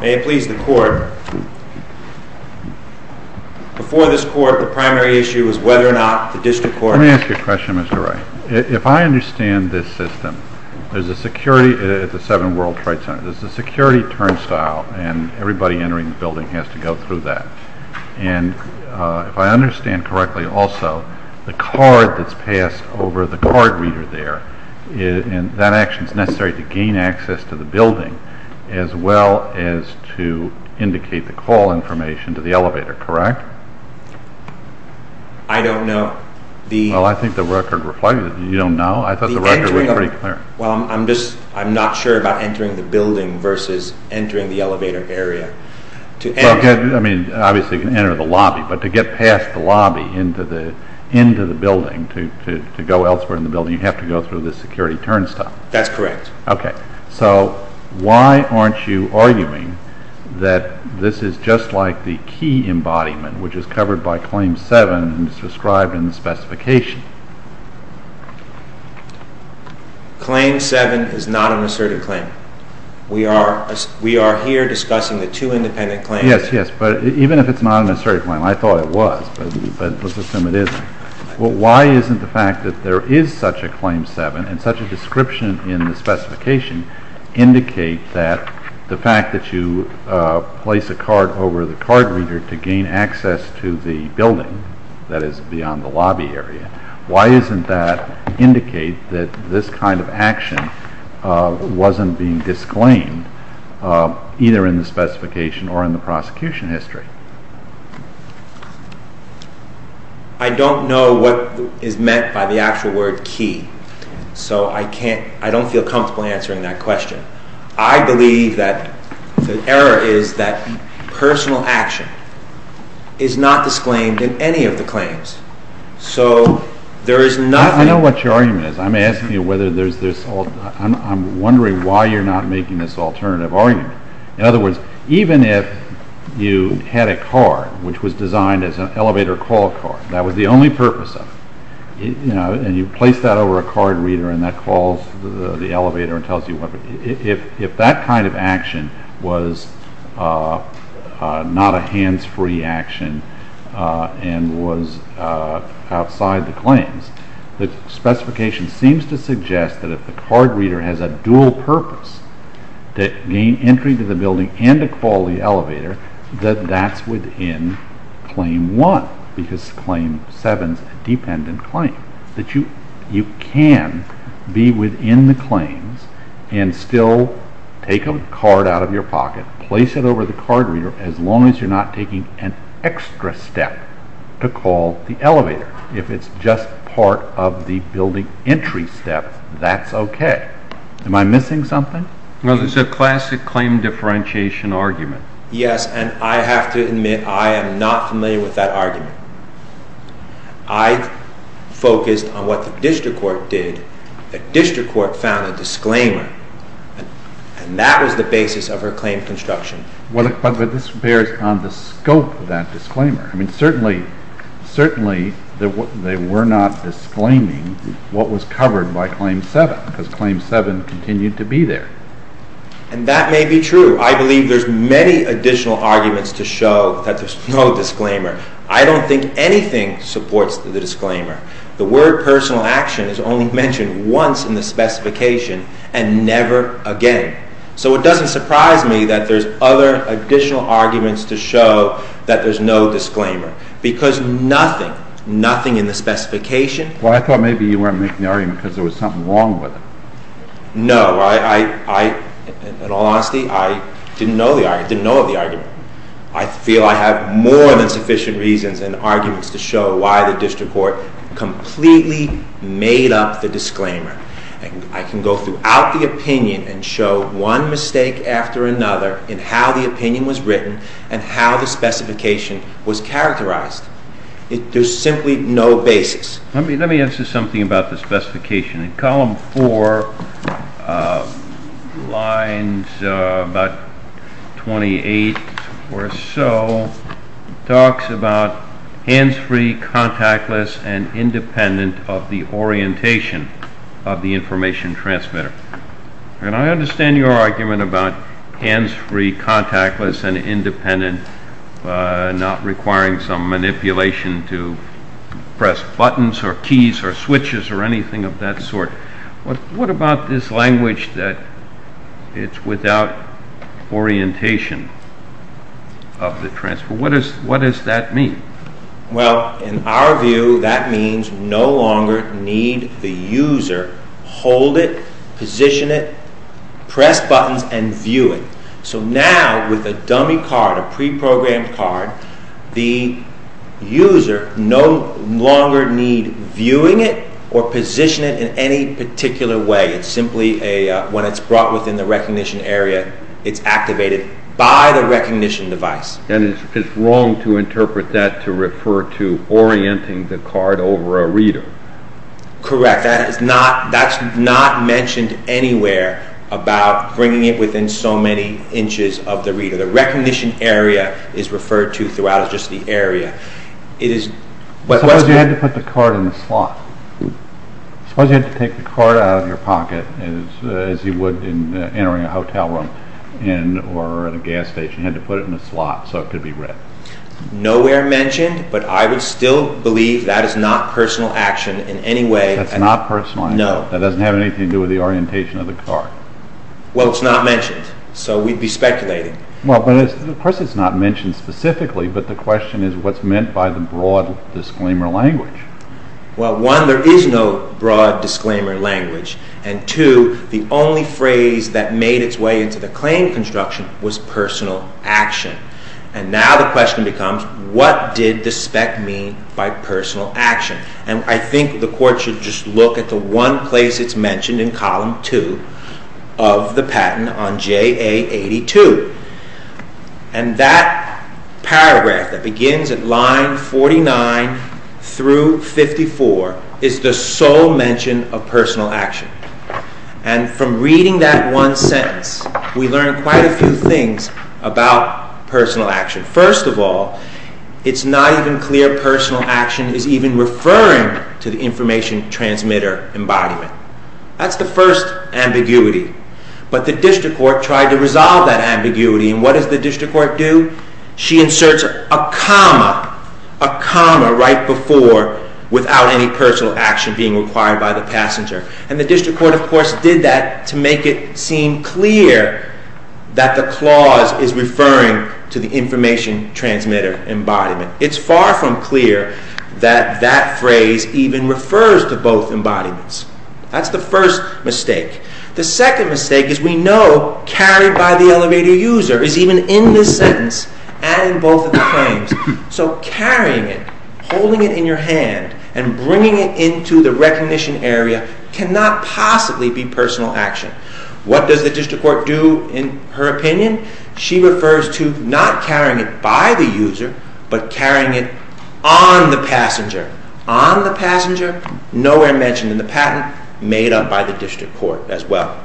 May it please the Court. Before this Court, the primary issue is whether or not the District Court Let me ask you a question, Mr. Wright. If I understand this system, there's a security at the 7 World Trade Center, there's a security turnstile and everybody entering the building has to go through that. And if I understand correctly also, the card that's passed over to the card reader there, that action is necessary to gain access to the building as well as to indicate the call information to the elevator, correct? I don't know. Well, I think the record reflected that you don't know. I thought the record was pretty clear. Well, I'm just, I'm not sure about entering the building versus entering the elevator area. Well, I mean, obviously you can enter the lobby, but to get past the lobby into the building, to go elsewhere in the building, you have to go through the security turnstile. That's correct. Okay. So why aren't you arguing that this is just like the key embodiment, which is covered by Claim 7 and is described in the specification? Claim 7 is not an assertive claim. We are here discussing the two independent claims. Yes, yes. But even if it's not an assertive claim, I thought it was, but let's assume it isn't. Well, why isn't the fact that there is such a Claim 7 and such a description in the specification indicate that the fact that you place a card over the card reader to gain access to the building that is beyond the lobby area, why isn't that indicate that this kind of action wasn't being disclaimed either in the specification or in the prosecution history? I don't know what is meant by the actual word key, so I can't, I don't feel comfortable answering that question. I believe that the error is that personal action is not disclaimed in any of the claims. So there is nothing... I know what your argument is. I'm asking you whether there's this, I'm wondering why you're not making this alternative argument. In other words, even if you had a card which was designed as an elevator call card, that was the only purpose of it, you know, and you place that over a card reader and that calls the elevator and tells you what, if that kind of action was not a hands-free action and was outside the claims, the specification seems to suggest that if the card reader has a dual purpose, to gain entry to the building and to call the elevator, that that's within claim one, because claim seven is a dependent claim, that you can be within the claims and still take a card out of your pocket, place it over the card reader as long as you're not taking an extra step to call the elevator. If it's just part of the building entry step, that's okay. Am I missing something? No, there's a classic claim differentiation argument. Yes, and I have to admit I am not familiar with that argument. I focused on what the district court did. The district court found a disclaimer and that was the basis of her claim construction. Well, but this bears on the scope of that disclaimer. I mean, certainly they were not disclaiming what was covered by claim seven, because claim seven continued to be there. And that may be true. I believe there's many additional arguments to show that there's no disclaimer. I don't think anything supports the disclaimer. The word personal action is only mentioned once in the specification and never again. So it doesn't surprise me that there's other additional arguments to show that there's no disclaimer, because nothing, nothing in the specification. Well, I thought maybe you weren't making the argument because there was something wrong with it. No, I, in all honesty, I didn't know the argument. I didn't know of the argument. I feel I have more than sufficient reasons and arguments to show why the district court completely made up the disclaimer. I can go throughout the opinion and show one mistake after another in how the opinion was written and how the specification was characterized. There's simply no basis. Let me answer something about the specification. In column four, lines about 28 or so, talks about hands-free, contactless, and independent of the orientation of the information transmitter. And I understand your argument about hands-free, contactless, and independent, not requiring some manipulation to press buttons or keys or switches or anything of that sort. What about this language that it's without orientation of the transfer? What does that mean? Well, in our view, that means no longer need the user hold it, position it, press buttons, and view it. So now with a dummy card, a preprogrammed card, the user no longer need viewing it or position it in any particular way. It's simply when it's brought within the recognition area, it's activated by the recognition device. And it's wrong to interpret that to refer to orienting the card over a reader. Correct. That's not mentioned anywhere about bringing it within so many inches of the reader. The recognition area is referred to throughout as just the area. Suppose you had to put the card in a slot. Suppose you had to take the card out of your pocket, as you would in entering a hotel room or a gas station. You had to put it in a slot so it could be read. Nowhere mentioned, but I would still believe that is not personal action in any way. That's not personal action? No. That doesn't have anything to do with the orientation of the card? Well, it's not mentioned, so we'd be speculating. Well, of course it's not mentioned specifically, but the question is what's meant by the broad disclaimer language. Well, one, there is no broad disclaimer language. And two, the only phrase that made its way into the claim construction was personal action. And now the question becomes, what did the spec mean by personal action? And I think the Court should just look at the one place it's mentioned in Column 2 of the patent on JA 82. And that paragraph that begins at line 49 through 54 is the sole mention of personal action. And from reading that one sentence, we learn quite a few things about personal action. First of all, it's not even clear personal action is even referring to the information transmitter embodiment. That's the first ambiguity. But the District Court tried to resolve that ambiguity. And what does the District Court do? She inserts a comma, a comma right before without any personal action being required by the passenger. And the District Court, of course, did that to make it seem clear that the clause is referring to the information transmitter embodiment. It's far from clear that that phrase even refers to both embodiments. That's the first mistake. The second mistake is we know carried by the elevator user is even in this sentence and in both of the claims. So carrying it, holding it in your hand, and bringing it into the recognition area cannot possibly be personal action. What does the District Court do in her opinion? She refers to not carrying it by the user, but carrying it on the passenger. On the passenger, nowhere mentioned in the patent, made up by the District Court as well.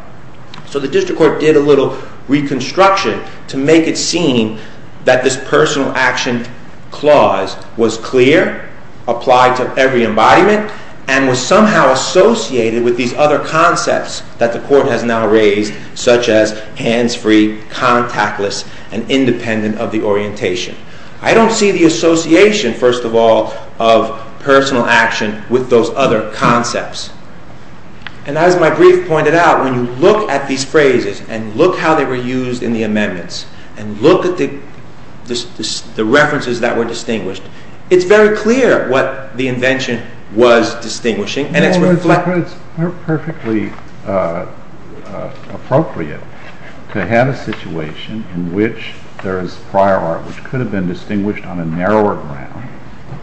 So the District Court did a little reconstruction to make it seem that this personal action clause was clear, applied to every embodiment, and was somehow associated with these other concepts that the Court has now raised, such as hands-free, contactless, and independent of the orientation. I don't see the association, first of all, of personal action with those other concepts. And as my brief pointed out, when you look at these phrases, and look how they were used in the amendments, and look at the references that were distinguished, it's very clear what the invention was distinguishing. It's perfectly appropriate to have a situation in which there is prior art which could have been distinguished on a narrower ground,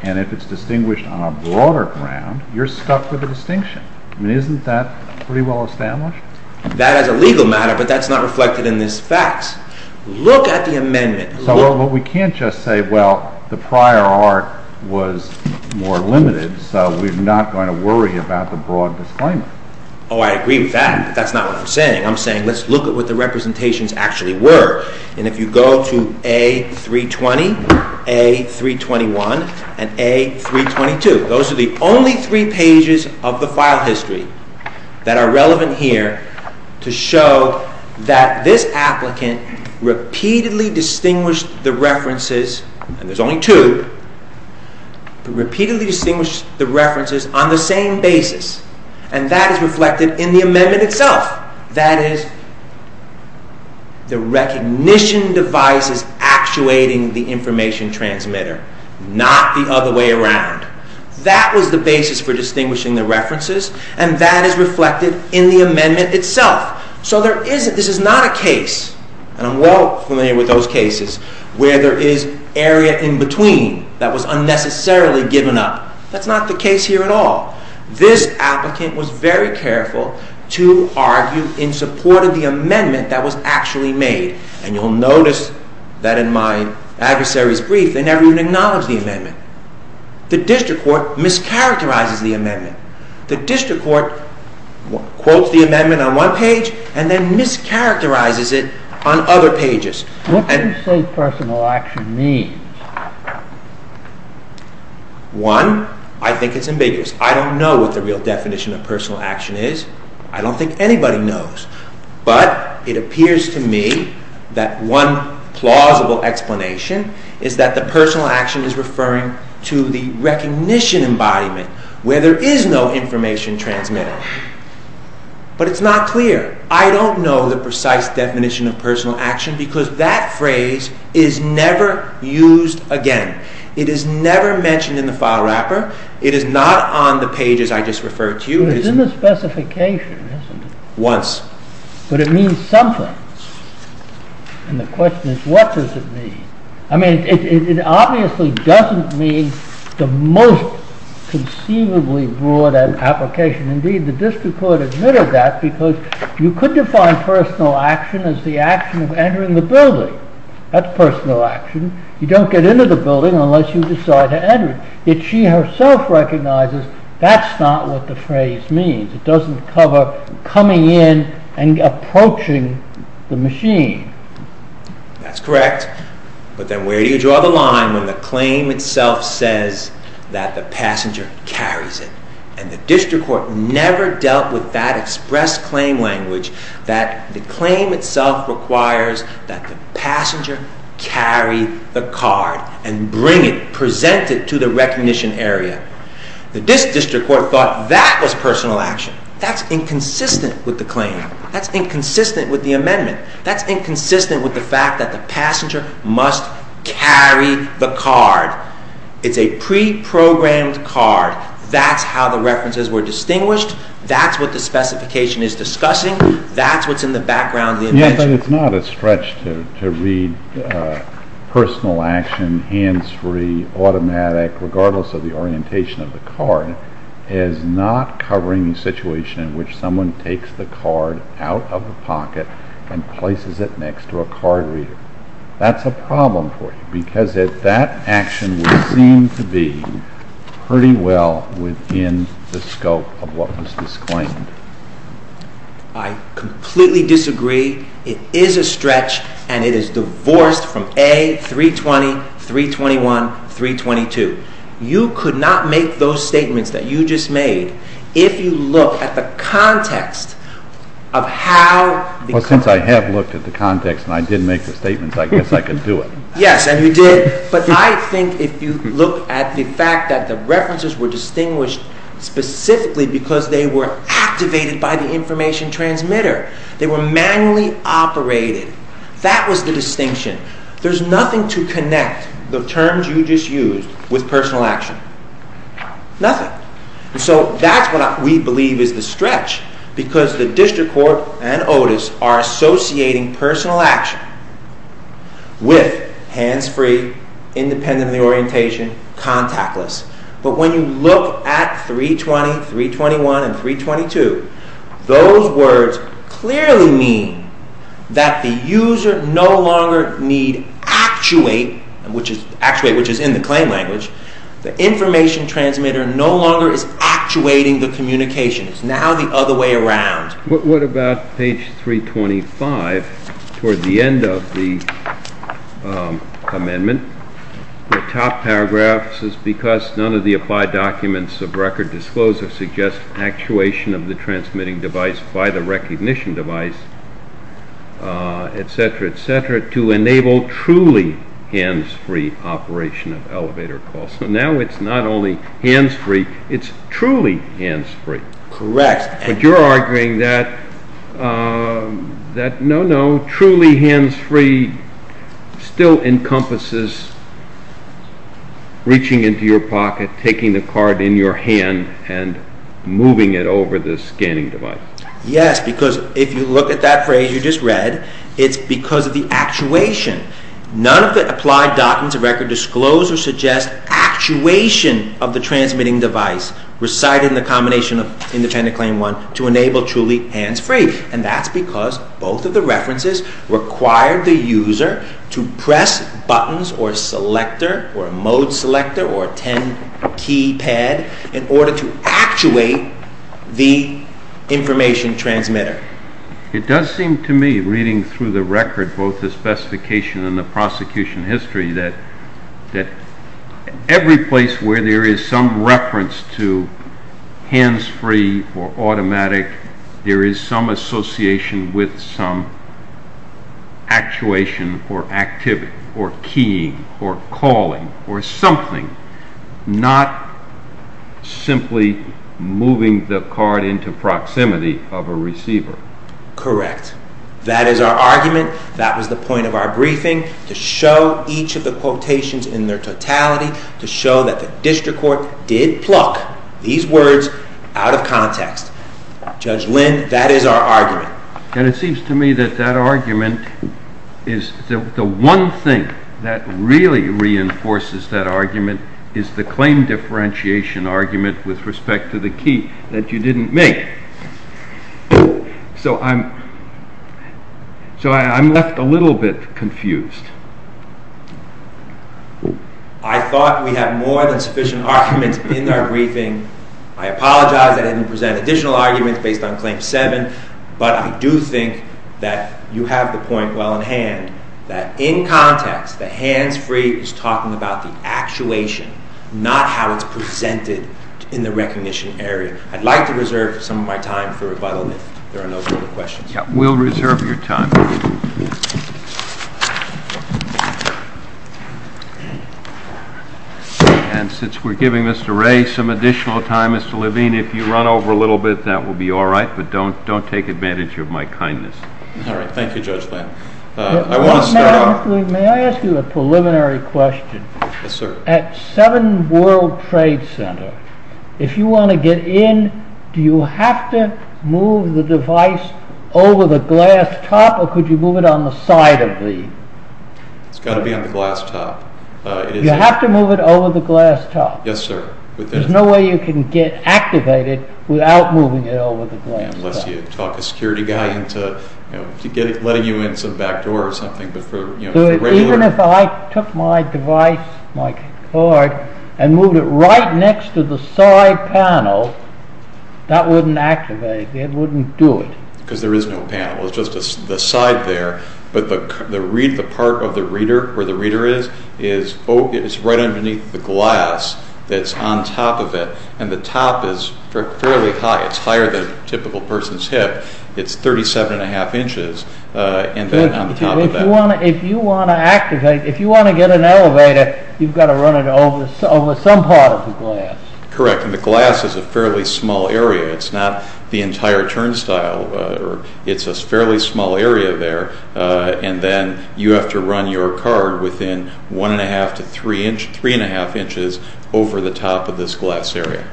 and if it's distinguished on a broader ground, you're stuck with the distinction. I mean, isn't that pretty well established? That is a legal matter, but that's not reflected in these facts. Look at the amendment. So we can't just say, well, the prior art was more limited, so we're not going to worry about the broad disclaimer. Oh, I agree with that, but that's not what I'm saying. I'm saying let's look at what the representations actually were. And if you go to A320, A321, and A322, those are the only three pages of the file history that are relevant here to show that this applicant repeatedly distinguished the references, and there's only two, but repeatedly distinguished the references on the same basis, and that is reflected in the amendment itself. That is, the recognition device is actuating the information transmitter, not the other way around. That was the basis for distinguishing the references, and that is reflected in the amendment itself. So this is not a case, and I'm well familiar with those cases, where there is area in between that was unnecessarily given up. That's not the case here at all. This applicant was very careful to argue in support of the amendment that was actually made, and you'll notice that in my adversary's brief, they never even acknowledged the amendment. The district court mischaracterizes the amendment. The district court quotes the amendment on one page and then mischaracterizes it on other pages. What do you say personal action means? One, I think it's ambiguous. I don't know what the real definition of personal action is. I don't think anybody knows. But it appears to me that one plausible explanation is that the personal action is referring to the recognition embodiment, where there is no information transmitter. But it's not clear. I don't know the precise definition of personal action because that phrase is never used again. It is never mentioned in the file wrapper. It is not on the pages I just referred to. But it's in the specification, isn't it? Once. But it means something, and the question is what does it mean? I mean, it obviously doesn't mean the most conceivably broad application. Indeed, the district court admitted that because you could define personal action as the action of entering the building. That's personal action. You don't get into the building unless you decide to enter it. Yet she herself recognizes that's not what the phrase means. It doesn't cover coming in and approaching the machine. That's correct. But then where do you draw the line when the claim itself says that the passenger carries it? And the district court never dealt with that express claim language that the claim itself requires that the passenger carry the card and bring it, present it to the recognition area. The district court thought that was personal action. That's inconsistent with the claim. That's inconsistent with the amendment. That's inconsistent with the fact that the passenger must carry the card. It's a pre-programmed card. That's how the references were distinguished. That's what the specification is discussing. That's what's in the background of the amendment. Yes, but it's not a stretch to read personal action, hands-free, automatic, regardless of the orientation of the card, as not covering the situation in which someone takes the card out of the pocket and places it next to a card reader. That's a problem for you, because that action would seem to be pretty well within the scope of what was disclaimed. I completely disagree. It is a stretch, and it is divorced from A320, 321, 322. You could not make those statements that you just made if you look at the context of how… Well, since I have looked at the context and I did make the statements, I guess I could do it. Yes, and you did. But I think if you look at the fact that the references were distinguished specifically because they were activated by the information transmitter. They were manually operated. That was the distinction. There's nothing to connect the terms you just used with personal action. Nothing. So that's what we believe is the stretch, because the district court and OTIS are associating personal action with hands-free, independent of the orientation, contactless. But when you look at 320, 321, and 322, those words clearly mean that the user no longer need actuate, which is in the claim language. The information transmitter no longer is actuating the communication. It's now the other way around. What about page 325 toward the end of the amendment? The top paragraph says, to enable truly hands-free operation of elevator calls. So now it's not only hands-free, it's truly hands-free. Correct. But you're arguing that, no, no, truly hands-free still encompasses reaching into your pocket, taking the card in your hand, and moving it over the scanning device. Yes, because if you look at that phrase you just read, it's because of the actuation. None of the applied documents of record disclose or suggest actuation of the transmitting device recited in the combination of Independent Claim 1 to enable truly hands-free. And that's because both of the references require the user to press buttons or a selector or a mode selector or a 10-key pad in order to actuate the information transmitter. It does seem to me, reading through the record, both the specification and the prosecution history, that every place where there is some reference to hands-free or automatic, there is some association with some actuation or activity or keying or calling or something, not simply moving the card into proximity of a receiver. Correct. That is our argument. That was the point of our briefing, to show each of the quotations in their totality, to show that the district court did pluck these words out of context. Judge Lind, that is our argument. And it seems to me that that argument is the one thing that really reinforces that argument is the claim differentiation argument with respect to the key that you didn't make. So I'm left a little bit confused. I thought we had more than sufficient arguments in our briefing. I apologize I didn't present additional arguments based on Claim 7. But I do think that you have the point well in hand that in context the hands-free is talking about the actuation, not how it's presented in the recognition area. I'd like to reserve some of my time for rebuttal if there are no further questions. We'll reserve your time. And since we're giving Mr. Ray some additional time, Mr. Levine, if you run over a little bit, that will be all right. But don't take advantage of my kindness. All right. Thank you, Judge Land. I want to start off. May I ask you a preliminary question? Yes, sir. At 7 World Trade Center, if you want to get in, do you have to move the device over the glass top or could you move it on the side of the... It's got to be on the glass top. You have to move it over the glass top. Yes, sir. There's no way you can get activated without moving it over the glass top. Unless you talk a security guy into letting you in through the back door or something. Even if I took my device, my card, and moved it right next to the side panel, that wouldn't activate it. It wouldn't do it. Because there is no panel. It's just the side there. But the part of the reader, where the reader is, is right underneath the glass that's on top of it. And the top is fairly high. It's higher than a typical person's hip. It's 37 1⁄2 inches on top of that. If you want to activate, if you want to get an elevator, you've got to run it over some part of the glass. Correct. And the glass is a fairly small area. It's not the entire turnstile. It's a fairly small area there. And then you have to run your card within 1 1⁄2 to 3 1⁄2 inches over the top of this glass area.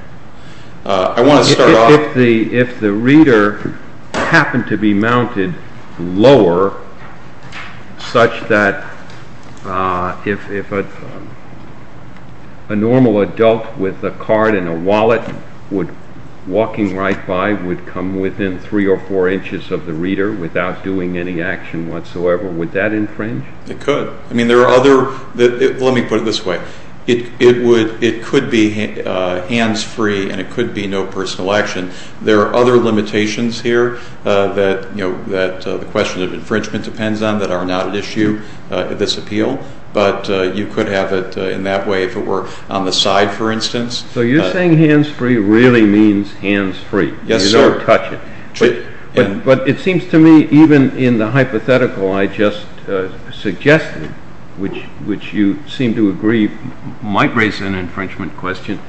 I want to start off... If the reader happened to be mounted lower, such that if a normal adult with a card and a wallet, walking right by would come within 3 or 4 inches of the reader without doing any action whatsoever, would that infringe? It could. Let me put it this way. It could be hands-free and it could be no personal action. There are other limitations here that the question of infringement depends on that are not at issue in this appeal. But you could have it in that way if it were on the side, for instance. So you're saying hands-free really means hands-free. Yes, sir. You don't touch it. But it seems to me even in the hypothetical I just suggested, which you seem to agree might raise an infringement question,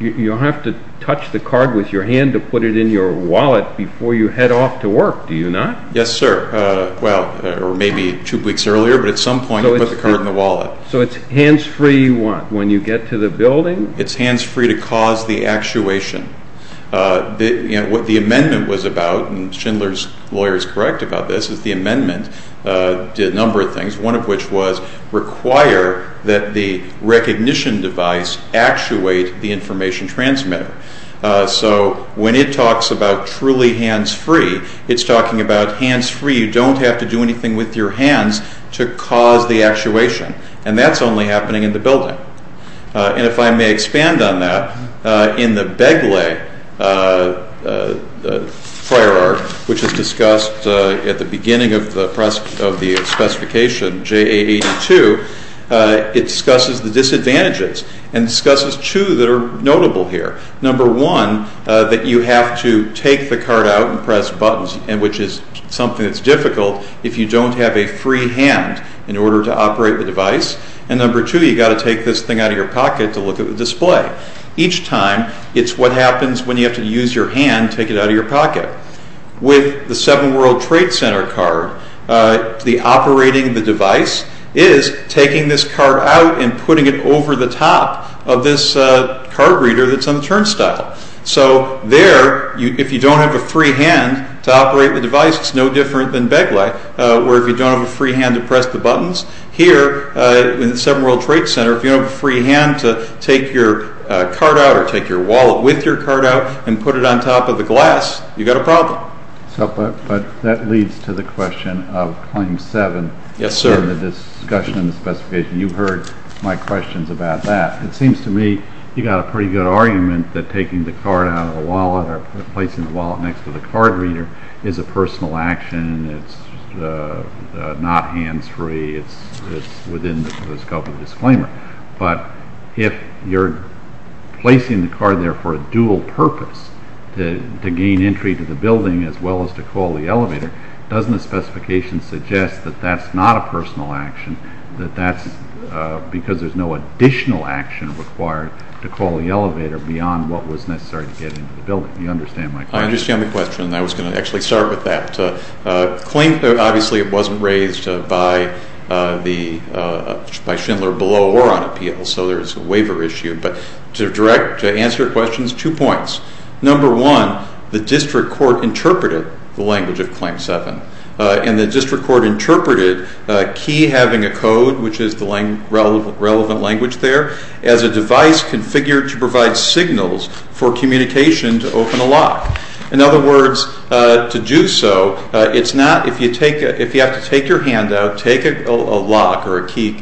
you have to touch the card with your hand to put it in your wallet before you head off to work, do you not? Yes, sir. Well, or maybe two weeks earlier, but at some point you put the card in the wallet. So it's hands-free when you get to the building? It's hands-free to cause the actuation. What the amendment was about, and Schindler's lawyer is correct about this, is the amendment did a number of things, one of which was require that the recognition device actuate the information transmitter. So when it talks about truly hands-free, it's talking about hands-free. You don't have to do anything with your hands to cause the actuation, and that's only happening in the building. And if I may expand on that, in the Begley prior art, which is discussed at the beginning of the specification JA82, it discusses the disadvantages and discusses two that are notable here. Number one, that you have to take the card out and press buttons, which is something that's difficult if you don't have a free hand in order to operate the device. And number two, you've got to take this thing out of your pocket to look at the display. Each time, it's what happens when you have to use your hand to take it out of your pocket. With the Seven World Trade Center card, the operating the device is taking this card out and putting it over the top of this card reader that's on the turnstile. So there, if you don't have a free hand to operate the device, it's no different than Begley, where if you don't have a free hand to press the buttons, here in the Seven World Trade Center, if you don't have a free hand to take your card out or take your wallet with your card out and put it on top of the glass, you've got a problem. But that leads to the question of Claim 7. Yes, sir. In the discussion in the specification, you heard my questions about that. It seems to me you've got a pretty good argument that taking the card out of the wallet or placing the wallet next to the card reader is a personal action. It's not hands-free. It's within the scope of the disclaimer. But if you're placing the card there for a dual purpose, to gain entry to the building as well as to call the elevator, doesn't the specification suggest that that's not a personal action, that that's because there's no additional action required to call the elevator beyond what was necessary to get into the building? Do you understand my question? I understand the question, and I was going to actually start with that. Claim, obviously, it wasn't raised by Schindler below or on appeal, so there's a waiver issue. But to answer your questions, two points. Number one, the district court interpreted the language of Claim 7, and the district court interpreted a key having a code, which is the relevant language there, as a device configured to provide signals for communication to open a lock. In other words, to do so, it's not if you have to take your hand out, take a lock or a key,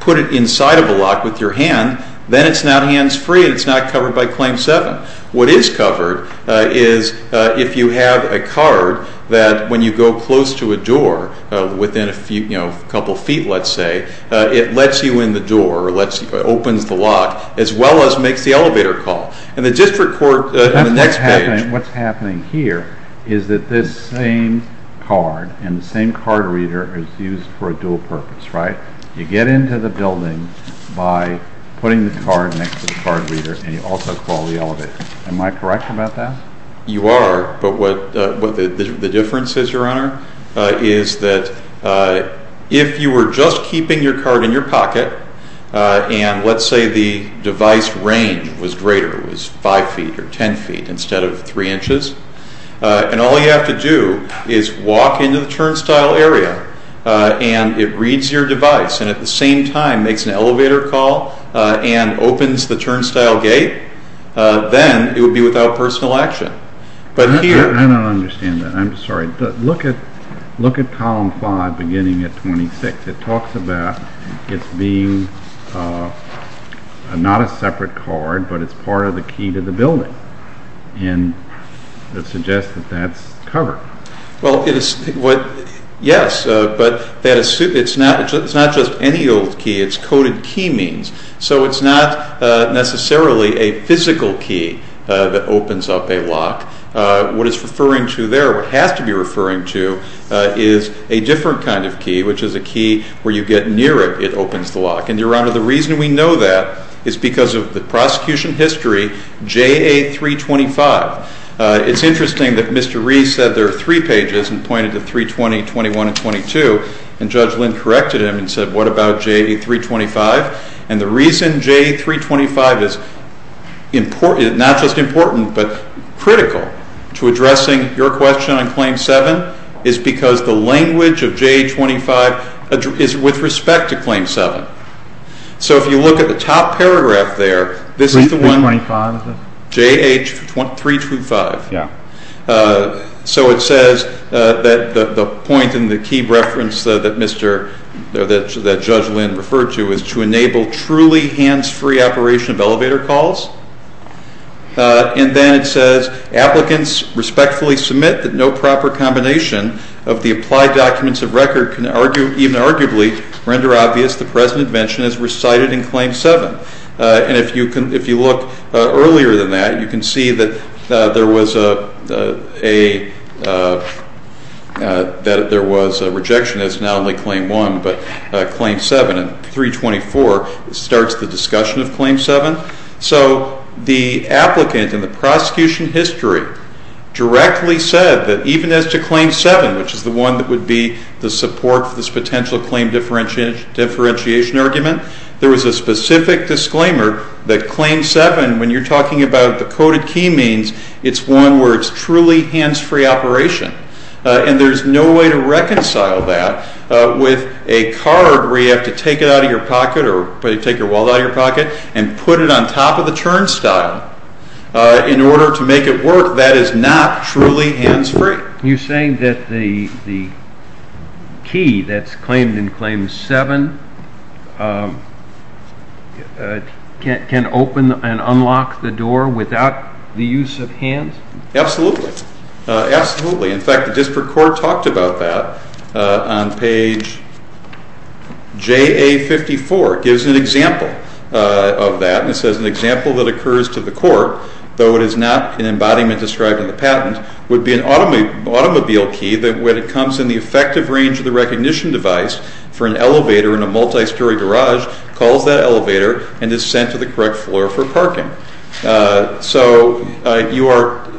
put it inside of a lock with your hand, then it's not hands-free and it's not covered by Claim 7. What is covered is if you have a card that when you go close to a door, within a couple of feet, let's say, it lets you in the door, opens the lock, as well as makes the elevator call. What's happening here is that this same card and the same card reader is used for a dual purpose, right? You get into the building by putting the card next to the card reader, and you also call the elevator. Am I correct about that? You are. The difference is, Your Honor, is that if you were just keeping your card in your pocket, and let's say the device range was greater, it was 5 feet or 10 feet instead of 3 inches, and all you have to do is walk into the turnstile area and it reads your device and at the same time makes an elevator call and opens the turnstile gate, then it would be without personal action. I don't understand that. I'm sorry. Look at Column 5 beginning at 26. It talks about it being not a separate card, but it's part of the key to the building, and it suggests that that's covered. Well, yes, but it's not just any old key. It's coded key means. So it's not necessarily a physical key that opens up a lock. What it's referring to there, what it has to be referring to, is a different kind of key, which is a key where you get near it, it opens the lock. And, Your Honor, the reason we know that is because of the prosecution history, J.A. 325. It's interesting that Mr. Rees said there are three pages and pointed to 320, 21, and 22, and Judge Lind corrected him and said, what about J.A. 325? And the reason J.A. 325 is not just important but critical to addressing your question on Claim 7 is because the language of J.A. 325 is with respect to Claim 7. So if you look at the top paragraph there, this is the one, J.A. 325. So it says that the point in the key reference that Judge Lind referred to is to enable truly hands-free operation of elevator calls. And then it says, applicants respectfully submit that no proper combination of the applied documents of record can even arguably render obvious the present invention as recited in Claim 7. And if you look earlier than that, you can see that there was a rejection that it's not only Claim 1 but Claim 7. And 324 starts the discussion of Claim 7. So the applicant in the prosecution history directly said that even as to Claim 7, which is the one that would be the support for this potential claim differentiation argument, there was a specific disclaimer that Claim 7, when you're talking about the coded key means, it's one where it's truly hands-free operation. And there's no way to reconcile that with a card where you have to take it out of your pocket or take your wallet out of your pocket and put it on top of the turnstile in order to make it work. That is not truly hands-free. You're saying that the key that's claimed in Claim 7 can open and unlock the door without the use of hands? Absolutely. Absolutely. In fact, the district court talked about that on page JA54. It gives an example of that, and it says an example that occurs to the court, though it is not an embodiment described in the patent, would be an automobile key that when it comes in the effective range of the recognition device for an elevator in a multi-story garage, calls that elevator and is sent to the correct floor for parking. So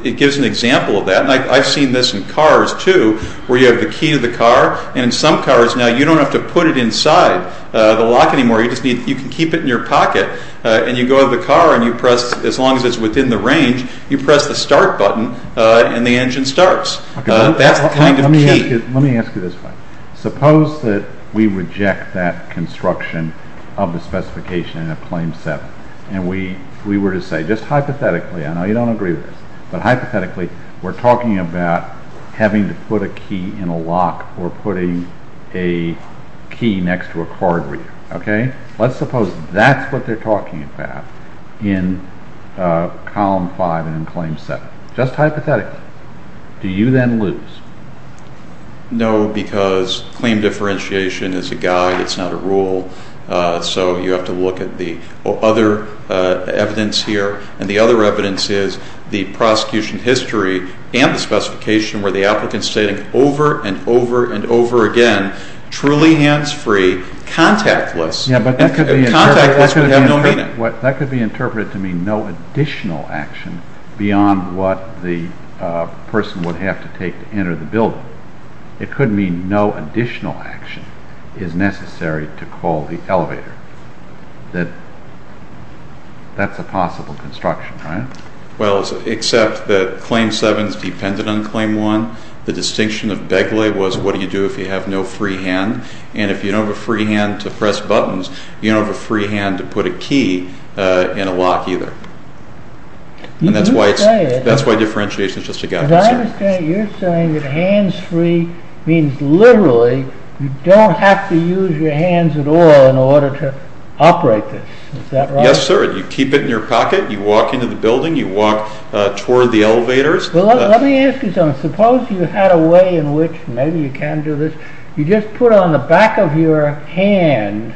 it gives an example of that. And I've seen this in cars, too, where you have the key to the car, and in some cars now you don't have to put it inside the lock anymore. You can keep it in your pocket, and you go to the car and you press, as long as it's within the range, you press the start button and the engine starts. That's the kind of key. Let me ask you this one. Suppose that we reject that construction of the specification in a Claim 7, and we were to say, just hypothetically, I know you don't agree with this, but hypothetically we're talking about having to put a key in a lock or putting a key next to a car door. Okay? Let's suppose that's what they're talking about in Column 5 and in Claim 7. Just hypothetically, do you then lose? No, because claim differentiation is a guide, it's not a rule, so you have to look at the other evidence here. And the other evidence is the prosecution history and the specification where the applicant's stating over and over and over again, truly hands-free, contactless, and contactless would have no meaning. That could be interpreted to mean no additional action beyond what the person would have to take to enter the building. It could mean no additional action is necessary to call the elevator. That's a possible construction, right? Well, except that Claim 7 is dependent on Claim 1. The distinction of Begley was what do you do if you have no free hand, and if you don't have a free hand to press buttons, you don't have a free hand to put a key in a lock either. And that's why differentiation is just a guide. But I understand you're saying that hands-free means literally you don't have to use your hands at all in order to operate this. Is that right? Yes, sir, you keep it in your pocket, you walk into the building, you walk toward the elevators. Well, let me ask you something. Suppose you had a way in which maybe you can do this. You just put on the back of your hand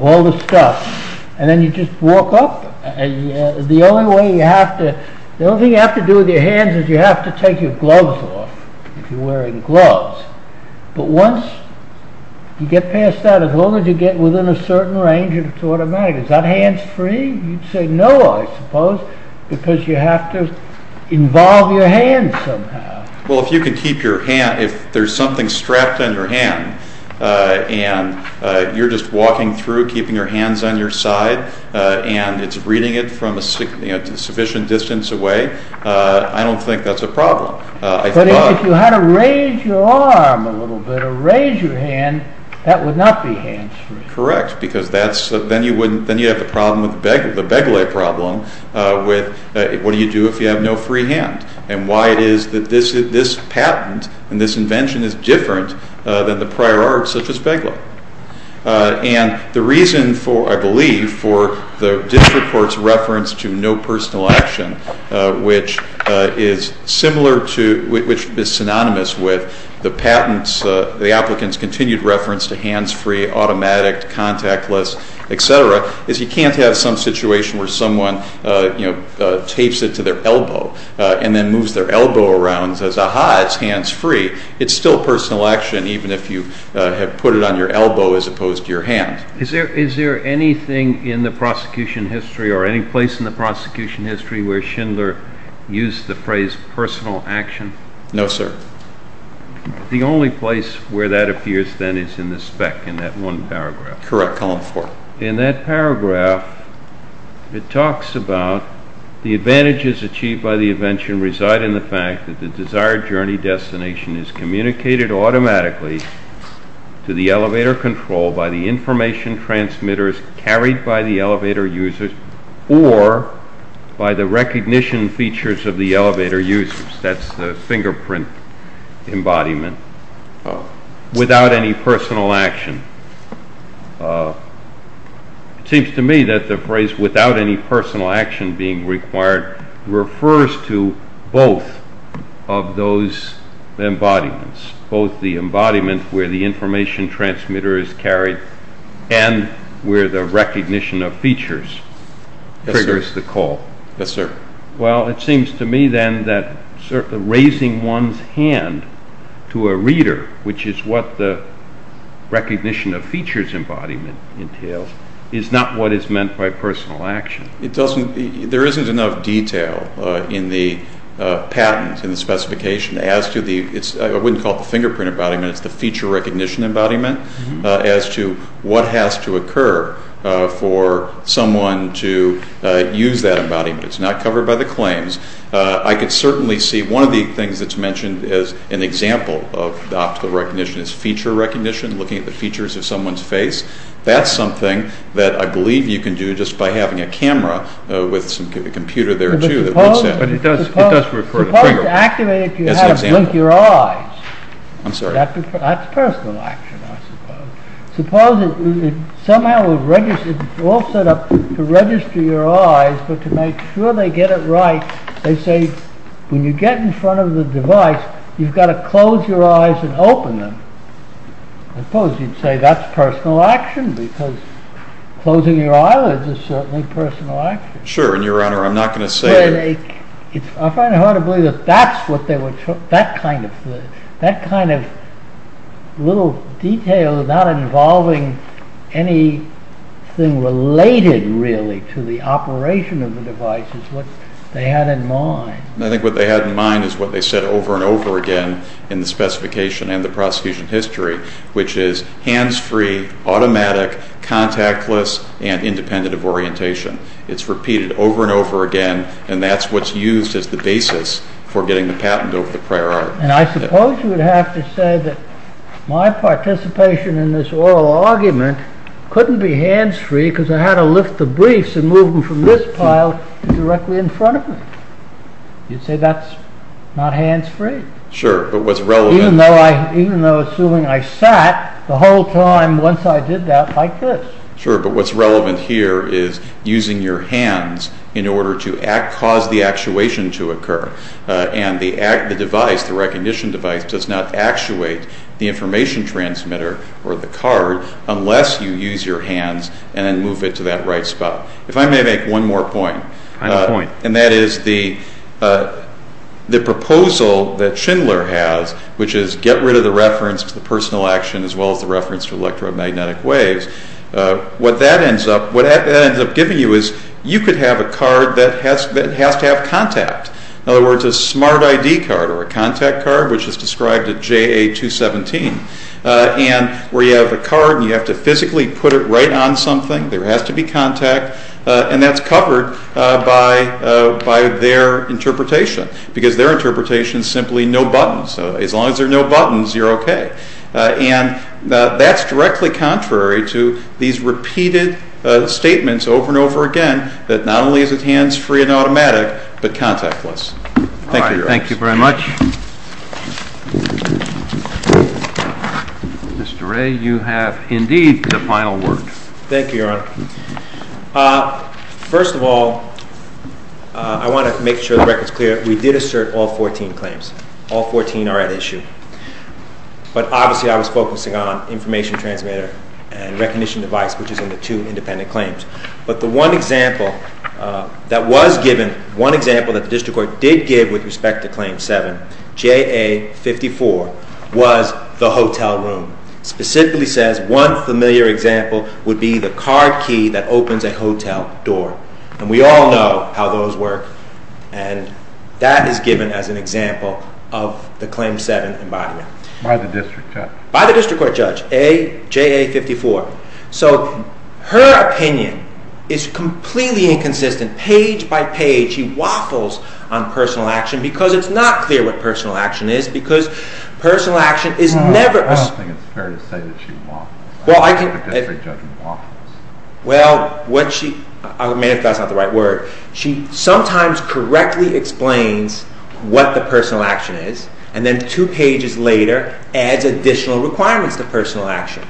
all the stuff, and then you just walk up. The only thing you have to do with your hands is you have to take your gloves off, if you're wearing gloves. But once you get past that, as long as you get within a certain range, it's automatic. Is that hands-free? You'd say no, I suppose, because you have to involve your hands somehow. Well, if there's something strapped on your hand, and you're just walking through, keeping your hands on your side, and it's reading it from a sufficient distance away, I don't think that's a problem. But if you had to raise your arm a little bit or raise your hand, that would not be hands-free. Correct, because then you'd have the Begley problem with what do you do if you have no free hand and why it is that this patent and this invention is different than the prior art such as Begley. And the reason, I believe, for the district court's reference to no personal action, which is synonymous with the patent's, the applicant's, continued reference to hands-free, automatic, contactless, et cetera, is you can't have some situation where someone tapes it to their elbow and then moves their elbow around and says, aha, it's hands-free. It's still personal action even if you have put it on your elbow as opposed to your hand. Is there anything in the prosecution history or any place in the prosecution history where Schindler used the phrase personal action? No, sir. The only place where that appears then is in the spec in that one paragraph. Correct, column four. In that paragraph, it talks about the advantages achieved by the invention reside in the fact that the desired journey destination is communicated automatically to the elevator control by the information transmitters carried by the elevator users or by the recognition features of the elevator users. That's the fingerprint embodiment. Without any personal action. It seems to me that the phrase without any personal action being required refers to both of those embodiments, both the embodiment where the information transmitter is carried and where the recognition of features triggers the call. Yes, sir. Well, it seems to me then that raising one's hand to a reader, which is what the recognition of features embodiment entails, is not what is meant by personal action. There isn't enough detail in the patent, in the specification, as to the, I wouldn't call it the fingerprint embodiment, it's the feature recognition embodiment, as to what has to occur for someone to use that embodiment. It's not covered by the claims. I could certainly see one of the things that's mentioned as an example of optical recognition is feature recognition, looking at the features of someone's face. That's something that I believe you can do just by having a camera with a computer there too that works out. But it does record a fingerprint. Suppose to activate it you have to blink your eyes. I'm sorry. That's personal action, I suppose. Suppose it somehow was all set up to register your eyes but to make sure they get it right, they say, when you get in front of the device, you've got to close your eyes and open them. I suppose you'd say that's personal action because closing your eyelids is certainly personal action. Sure, and your honor, I'm not going to say... I find it hard to believe that that kind of little detail not involving anything related really to the operation of the device is what they had in mind. I think what they had in mind is what they said over and over again in the specification and the prosecution history, which is hands-free, automatic, contactless, and independent of orientation. It's repeated over and over again, and that's what's used as the basis for getting the patent over the prior art. I suppose you would have to say that my participation in this oral argument couldn't be hands-free because I had to lift the briefs and move them from this pile to directly in front of me. You'd say that's not hands-free. Sure, but what's relevant... Even though assuming I sat the whole time once I did that like this. Sure, but what's relevant here is using your hands in order to cause the actuation to occur and the device, the recognition device, does not actuate the information transmitter or the card unless you use your hands and then move it to that right spot. If I may make one more point, and that is the proposal that Schindler has, which is get rid of the reference to the personal action as well as the reference to electromagnetic waves, what that ends up giving you is you could have a card that has to have contact. In other words, a smart ID card or a contact card, which is described at JA 217, where you have a card and you have to physically put it right on something. There has to be contact, and that's covered by their interpretation because their interpretation is simply no buttons. As long as there are no buttons, you're okay. That's directly contrary to these repeated statements over and over again that not only is it hands-free and automatic, but contactless. Thank you, Your Honor. All right, thank you very much. Mr. Ray, you have indeed the final word. Thank you, Your Honor. First of all, I want to make sure the record's clear. We did assert all 14 claims. All 14 are at issue. But obviously I was focusing on information transmitter and recognition device, which is in the two independent claims. But the one example that was given, one example that the district court did give with respect to Claim 7, JA 54, was the hotel room. Specifically says one familiar example would be the card key that opens a hotel door. And we all know how those work, and that is given as an example of the Claim 7 embodiment. By the district judge? By the district court judge, JA 54. So her opinion is completely inconsistent. Page by page she waffles on personal action because it's not clear what personal action is, because personal action is never... I don't think it's fair to say that she waffles. Well, I can... I don't think a district judge waffles. Well, what she... I mean, if that's not the right word. She sometimes correctly explains what the personal action is, and then two pages later adds additional requirements to personal action.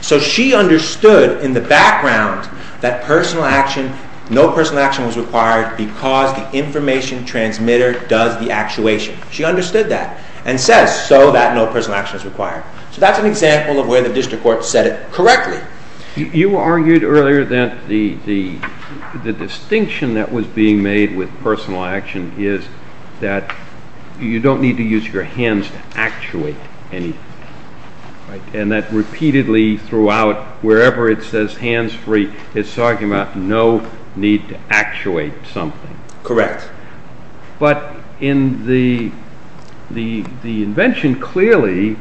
So she understood in the background that personal action, no personal action was required because the information transmitter does the actuation. She understood that and says, so that no personal action is required. So that's an example of where the district court said it correctly. You argued earlier that the distinction that was being made with personal action is that you don't need to use your hands to actuate anything. And that repeatedly throughout, wherever it says hands-free, it's talking about no need to actuate something. Correct. But in the invention, clearly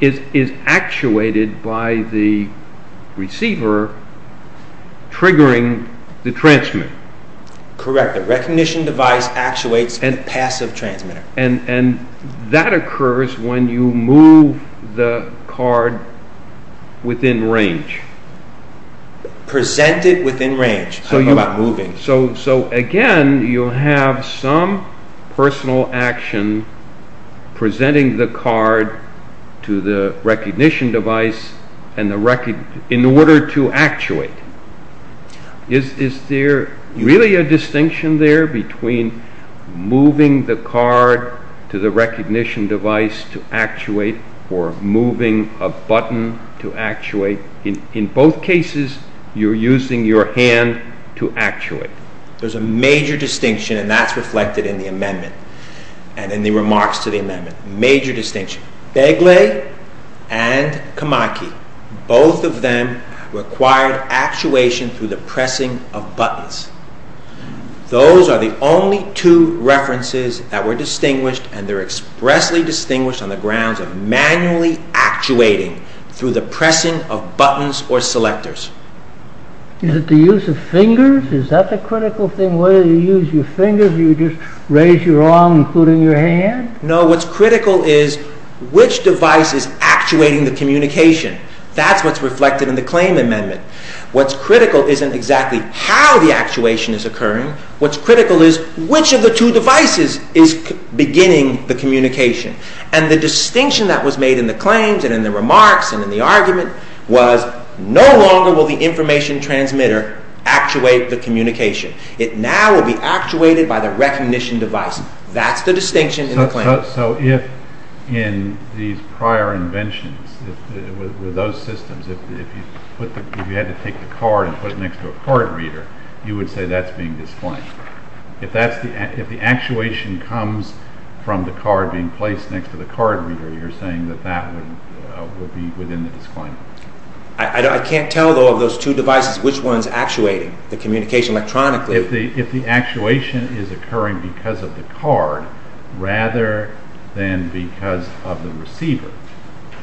is actuated by the receiver triggering the transmitter. Correct. The recognition device actuates the passive transmitter. And that occurs when you move the card within range. Present it within range. How about moving? So again, you have some personal action presenting the card to the recognition device in order to actuate. Is there really a distinction there between moving the card to the recognition device to actuate or moving a button to actuate? In both cases, you're using your hand to actuate. There's a major distinction, and that's reflected in the amendment and in the remarks to the amendment. Major distinction. Begley and Kamaki, both of them required actuation through the pressing of buttons. Those are the only two references that were distinguished, and they're expressly distinguished on the grounds of manually actuating through the pressing of buttons or selectors. Is it the use of fingers? Is that the critical thing? Whether you use your fingers, or you just raise your arm including your hand? No, what's critical is which device is actuating the communication. That's what's reflected in the claim amendment. What's critical isn't exactly how the actuation is occurring. What's critical is which of the two devices is beginning the communication. And the distinction that was made in the claims and in the remarks and in the argument was no longer will the information transmitter actuate the communication. It now will be actuated by the recognition device. That's the distinction in the claim. So if in these prior inventions, with those systems, if you had to take the card and put it next to a card reader, you would say that's being disclaimed. If the actuation comes from the card being placed next to the card reader, you're saying that that would be within the disclaimer. I can't tell, though, of those two devices, which one's actuating the communication electronically. If the actuation is occurring because of the card, rather than because of the receiver,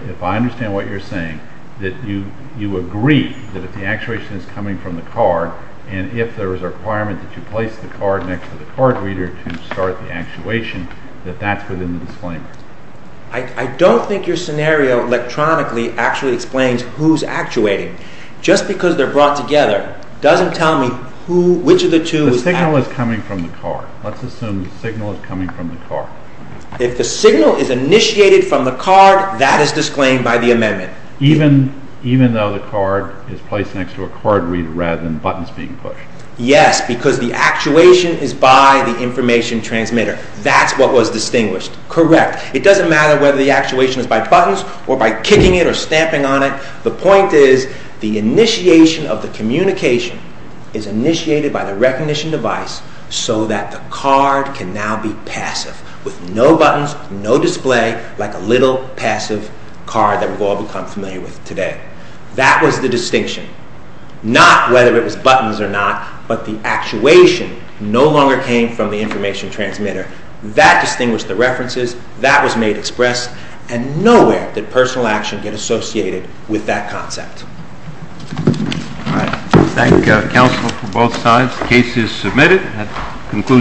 if I understand what you're saying, that you agree that if the actuation is coming from the card and if there is a requirement that you place the card next to the card reader to start the actuation, that that's within the disclaimer. I don't think your scenario electronically actually explains who's actuating. Just because they're brought together doesn't tell me which of the two is actuating. The signal is coming from the card. Let's assume the signal is coming from the card. If the signal is initiated from the card, that is disclaimed by the amendment. Even though the card is placed next to a card reader rather than buttons being pushed. Yes, because the actuation is by the information transmitter. That's what was distinguished. Correct. It doesn't matter whether the actuation is by buttons or by kicking it or stamping on it. The point is the initiation of the communication is initiated by the recognition device so that the card can now be passive with no buttons, no display, like a little passive card that we've all become familiar with today. That was the distinction, not whether it was buttons or not, but the actuation no longer came from the information transmitter. That distinguished the references. That was made express, and nowhere did personal action get associated with that concept. Thank you, counsel, for both sides. The case is submitted.